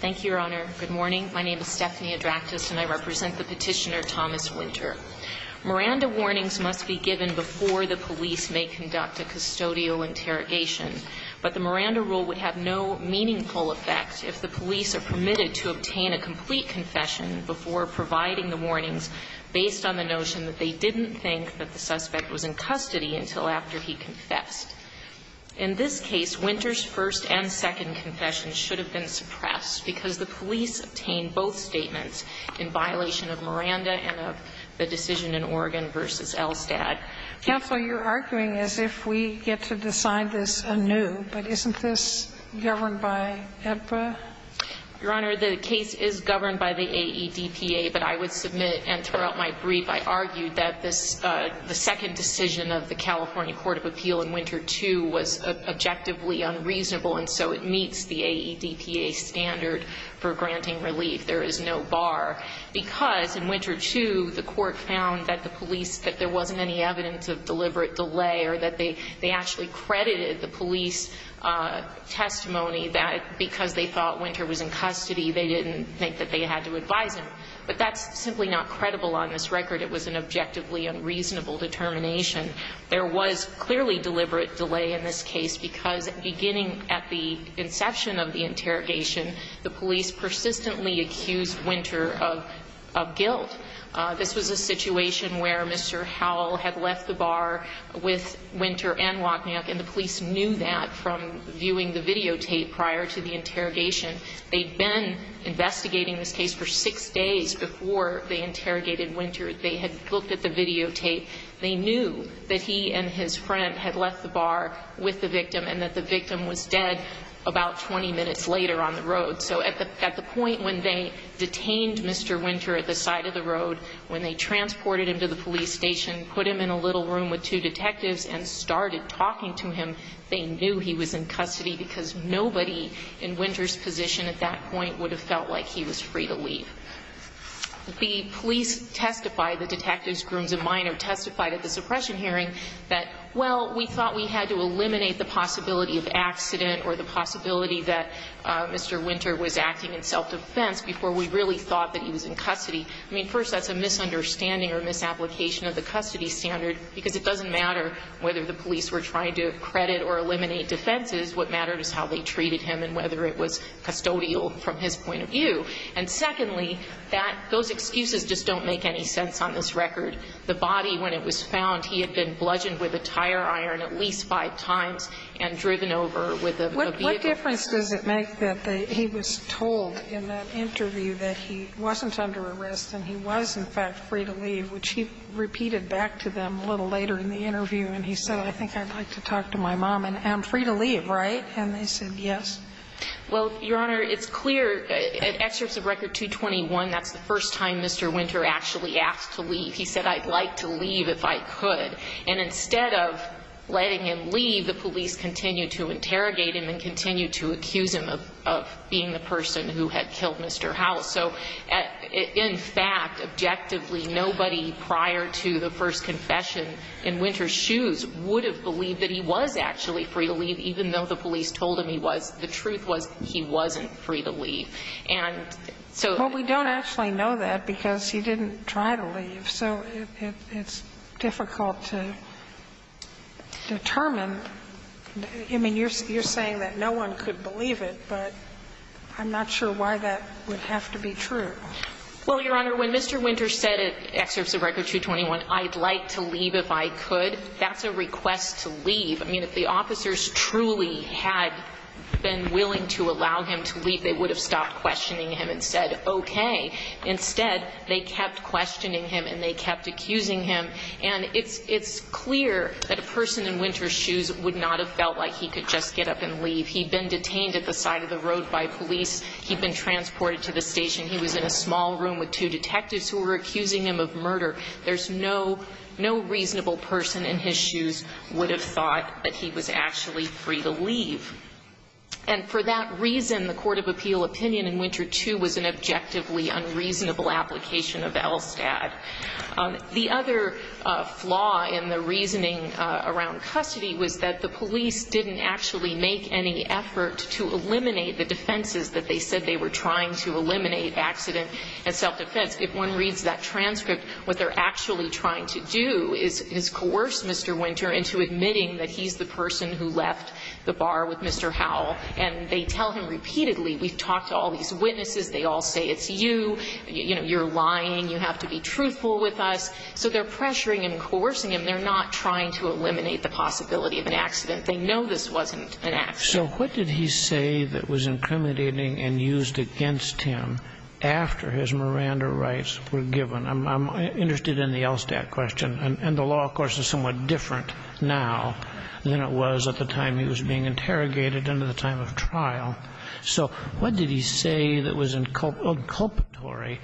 Thank you, Your Honor. Good morning. My name is Stephanie Adractas, and I represent the petitioner Thomas Winter. Miranda warnings must be given before the police may conduct a custodial interrogation, but the Miranda rule would have no meaningful effect if the police are permitted to obtain a complete confession before providing the warnings based on the notion that they didn't think that the suspect was in custody until after he confessed. In this case, Winter's first and second confessions should have been suppressed because the police obtained both statements in violation of Miranda and of the decision in Oregon v. Elstad. Counsel, you're arguing as if we get to decide this anew, but isn't this governed by EBPA? Your Honor, the case is governed by the AEDPA, but I would submit, and throughout my brief, I argued that the second decision of the California Court of Appeal in Winter II was objectively unreasonable, and so it meets the AEDPA standard for granting relief. There is no bar, because in Winter II, the Court found that the police, that there wasn't any evidence of deliberate delay or that they actually credited the police testimony that because they thought Winter was in custody, they didn't think that they had to advise him. But that's simply not credible on this record. It was an objectively unreasonable determination. There was clearly deliberate delay in this case, because beginning at the inception of the interrogation, the police persistently accused Winter of guilt. This was a situation where Mr. Howell had left the bar with Winter and Wotniak, and the police knew that from viewing the videotape prior to the interrogation. They'd been investigating this case for six days before they interrogated Winter. They had looked at the videotape. They knew that he and his friend had left the bar with the victim and that the victim was dead about 20 minutes later on the road. So at the point when they detained Mr. Winter at the side of the road, when they transported him to the police station, put him in a little room with two detectives and started talking to him, they knew he was in custody because nobody in Winter's position at that point would have felt like he was free to leave. The police testified, the detectives, Grooms and Minor, testified at the suppression hearing that, well, we thought we had to eliminate the possibility of accident or the possibility that Mr. Winter was acting in self-defense before we really thought that he was in custody. I mean, first, that's a misunderstanding or misapplication of the custody standard, because it doesn't matter whether the police were trying to credit or eliminate defenses. What mattered is how they treated him and whether it was custodial from his point of view. And secondly, that those excuses just don't make any sense on this record. The body, when it was found, he had been bludgeoned with a tire iron at least five times and driven over with a vehicle. What difference does it make that he was told in that interview that he wasn't under arrest and he was, in fact, free to leave, which he repeated back to them a little later in the interview, and he said, I think I'd like to talk to my mom. And I'm free to leave, right? And they said yes. Well, Your Honor, it's clear, excerpts of Record 221, that's the first time Mr. Winter actually asked to leave. He said, I'd like to leave if I could. And instead of letting him leave, the police continued to interrogate him and continued to accuse him of being the person who had killed Mr. Howell. So, in fact, objectively, nobody prior to the first confession in Winter's shoes would have believed that he was actually free to leave, even though the police told him he was. The truth was, he wasn't free to leave. And so we don't actually know that because he didn't try to leave. So it's difficult to determine. I mean, you're saying that no one could believe it, but I'm not sure why that would have to be true. Well, Your Honor, when Mr. Winter said, excerpts of Record 221, I'd like to leave if I could, that's a request to leave. I mean, if the officers truly had been willing to allow him to leave, they would have stopped questioning him and said, okay. Instead, they kept questioning him and they kept accusing him. And it's clear that a person in Winter's shoes would not have felt like he could just get up and leave. He'd been detained at the side of the road by police. He'd been transported to the station. He was in a small room with two detectives who were accusing him of murder. There's no reasonable person in his shoes would have thought that he was actually free to leave. And for that reason, the court of appeal opinion in Winter 2 was an objectively unreasonable application of ELSTAD. The other flaw in the reasoning around custody was that the police didn't actually make any effort to eliminate the defenses that they said they were trying to eliminate, accident and self-defense. If one reads that transcript, what they're actually trying to do is coerce Mr. Winter into admitting that he's the person who left the bar with Mr. Howell. And they tell him repeatedly, we've talked to all these witnesses. They all say it's you. You know, you're lying. You have to be truthful with us. So they're pressuring and coercing him. They're not trying to eliminate the possibility of an accident. They know this wasn't an accident. So what did he say that was incriminating and used against him after his Miranda rights were given? I'm interested in the ELSTAD question. And the law, of course, is somewhat different now than it was at the time he was being interrogated and at the time of trial. So what did he say that was inculpatory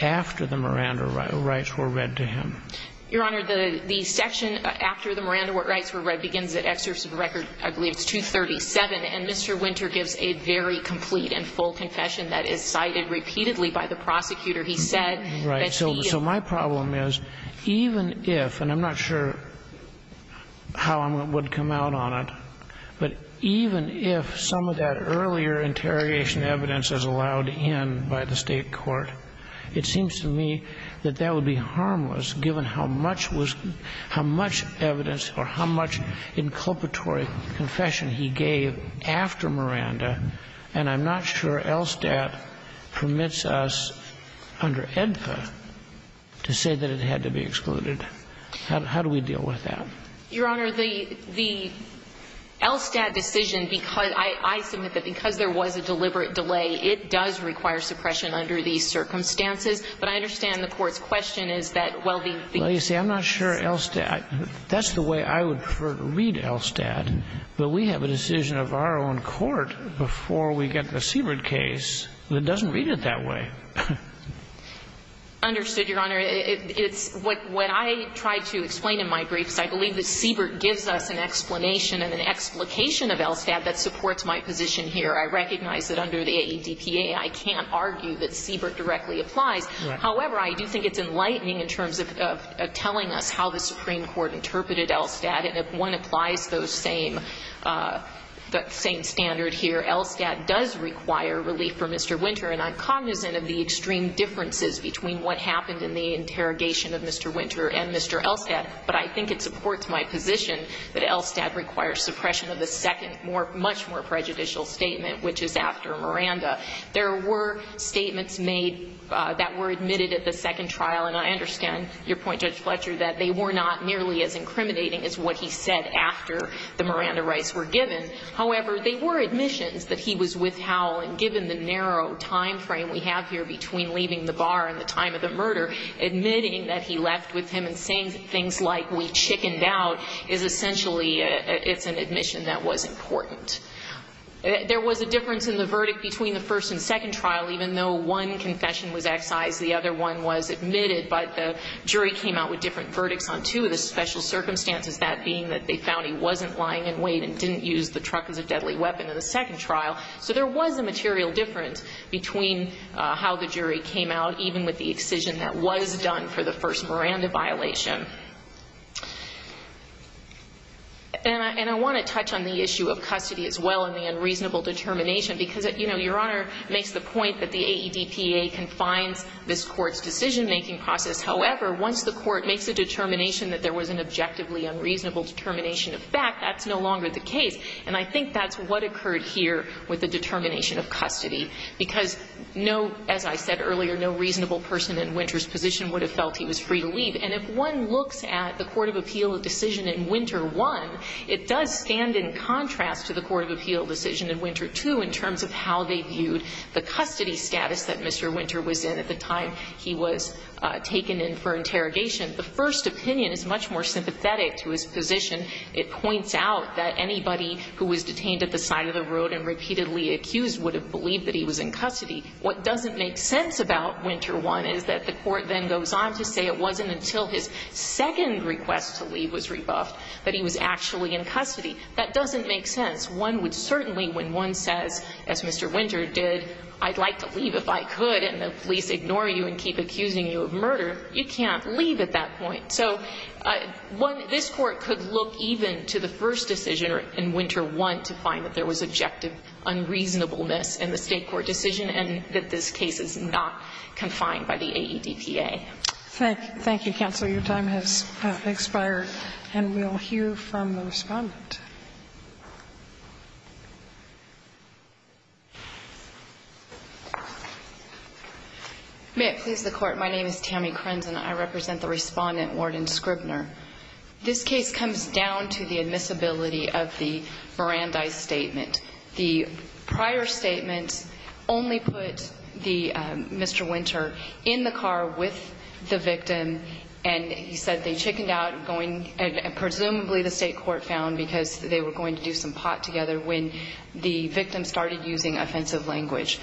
after the Miranda rights were read to him? Your Honor, the section after the Miranda rights were read begins at excerpt of the record, I believe it's 237. And Mr. Winter gives a very complete and full confession that is cited repeatedly by the prosecutor. He said that he... Right. ...earlier interrogation evidence as allowed in by the state court. It seems to me that that would be harmless given how much was – how much evidence or how much inculpatory confession he gave after Miranda. And I'm not sure ELSTAD permits us under EDPA to say that it had to be excluded. How do we deal with that? Your Honor, the ELSTAD decision, because – I submit that because there was a deliberate delay, it does require suppression under these circumstances. But I understand the Court's question is that, well, the... Well, you see, I'm not sure ELSTAD – that's the way I would prefer to read ELSTAD. But we have a decision of our own court before we get the Siebert case that doesn't read it that way. Understood, Your Honor. Your Honor, it's – what I try to explain in my briefs, I believe that Siebert gives us an explanation and an explication of ELSTAD that supports my position here. I recognize that under the ADPA, I can't argue that Siebert directly applies. However, I do think it's enlightening in terms of telling us how the Supreme Court interpreted ELSTAD. And if one applies those same – that same standard here, ELSTAD does require relief for Mr. Winter. And I'm cognizant of the extreme differences between what happened in the interrogation of Mr. Winter and Mr. ELSTAD. But I think it supports my position that ELSTAD requires suppression of the second, more – much more prejudicial statement, which is after Miranda. There were statements made that were admitted at the second trial. And I understand your point, Judge Fletcher, that they were not nearly as incriminating as what he said after the Miranda rights were given. However, they were admissions that he was with Howell. And given the narrow time frame we have here between leaving the bar and the time of the murder, admitting that he left with him and saying things like, we chickened out, is essentially – it's an admission that was important. There was a difference in the verdict between the first and second trial, even though one confession was excised, the other one was admitted. But the jury came out with different verdicts on two of the special circumstances, that being that they found he wasn't lying in wait and didn't use the truck as a deadly weapon in the second trial. So there was a material difference between how the jury came out, even with the excision that was done for the first Miranda violation. And I want to touch on the issue of custody as well and the unreasonable determination, because, you know, Your Honor makes the point that the AEDPA confines this Court's decision-making process. However, once the Court makes a determination that there was an objectively unreasonable determination of fact, that's no longer the case. And I think that's what occurred here with the determination of custody, because no – as I said earlier, no reasonable person in Winter's position would have felt he was free to leave. And if one looks at the court of appeal decision in Winter 1, it does stand in contrast to the court of appeal decision in Winter 2 in terms of how they viewed the custody status that Mr. Winter was in at the time he was taken in for interrogation. The first opinion is much more sympathetic to his position. It points out that anybody who was detained at the side of the road and repeatedly accused would have believed that he was in custody. What doesn't make sense about Winter 1 is that the Court then goes on to say it wasn't until his second request to leave was rebuffed that he was actually in custody. That doesn't make sense. One would certainly, when one says, as Mr. Winter did, I'd like to leave if I could, and the police ignore you and keep accusing you of murder, you can't leave at that point. So one – this Court could look even to the first decision in Winter 1 to find that there was objective unreasonableness in the State court decision and that this case is not confined by the AEDPA. Thank you, counsel. Your time has expired, and we'll hear from the Respondent. May it please the Court, my name is Tammy Krenz, and I represent the Respondent, Warden Scribner. This case comes down to the admissibility of the Mirandai statement. The prior statement only put the – Mr. Winter in the car with the victim, and he said they chickened out going – and presumably the State court found because they were going to do some pot together when the victim started using offensive language.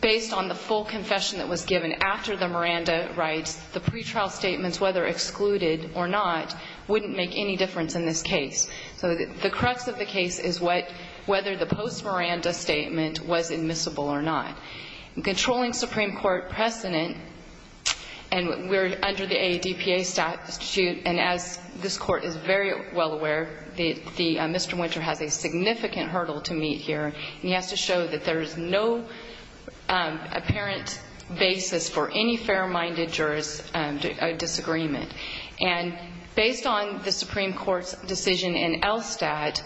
Based on the full confession that was given after the Miranda rights, the pretrial statements, whether excluded or not, wouldn't make any difference in this case. So the crux of the case is what – whether the post-Miranda statement was admissible or not. In controlling Supreme Court precedent, and we're under the AEDPA statute, and as this Court is very well aware, the – Mr. Winter has a significant hurdle to meet here, and he has to show that there is no apparent basis for any fair-minded jurist disagreement. And based on the Supreme Court's decision in ELSTAT,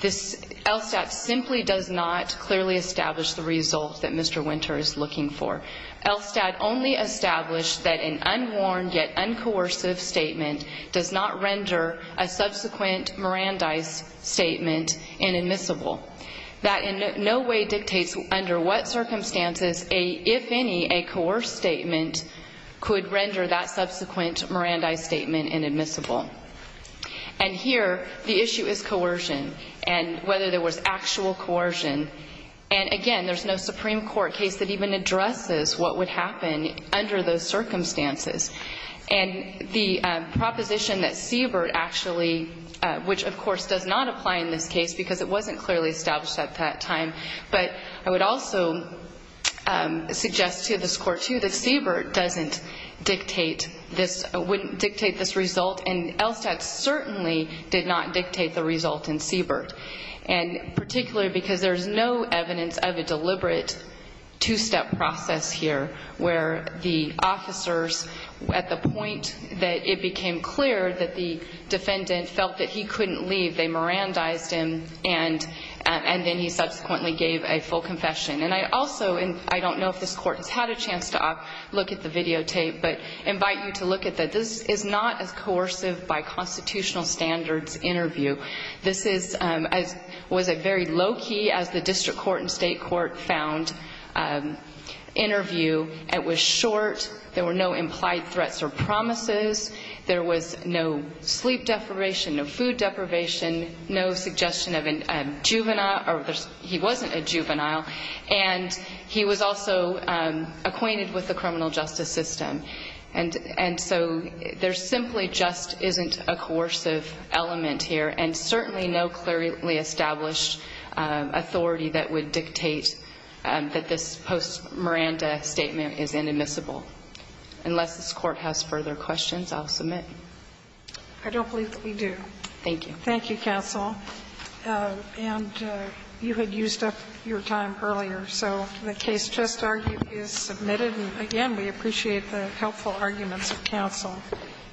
this – ELSTAT simply does not clearly establish the result that Mr. Winter is looking for. ELSTAT only established that an unwarned yet uncoercive statement does not render a subsequent Mirandai statement inadmissible. That in no way dictates under what circumstances a – if any, a coerced statement could render that subsequent Mirandai statement inadmissible. And here, the issue is coercion, and whether there was actual coercion. And again, there's no Supreme Court case that even addresses what would happen under those circumstances. And the proposition that Siebert actually – which, of course, does not apply in this case because it wasn't clearly established at that time, but I would also suggest to this Court, too, that Siebert doesn't dictate this – wouldn't dictate this result, and ELSTAT certainly did not dictate the result in Siebert. And particularly because there's no evidence of a deliberate two-step process here where the officers, at the point that it became clear that the defendant felt that he couldn't leave, they Mirandized him, and then he subsequently gave a full confession. And I also – and I don't know if this Court has had a chance to look at the videotape, but invite you to look at that. This is not a coercive by constitutional standards interview. This is – was a very low-key, as the District Court and State Court found, interview. It was short. There were no implied threats or promises. There was no sleep deprivation, no food deprivation, no suggestion of a juvenile – or he wasn't a juvenile. And he was also acquainted with the criminal justice system. And so there simply just isn't a coercive element here, and certainly no clearly established authority that would dictate that this post-Miranda statement is inadmissible. Unless this Court has further questions, I'll submit. I don't believe that we do. Thank you. Thank you, counsel. And you had used up your time earlier, so the case just argued is submitted. And again, we appreciate the helpful arguments of counsel.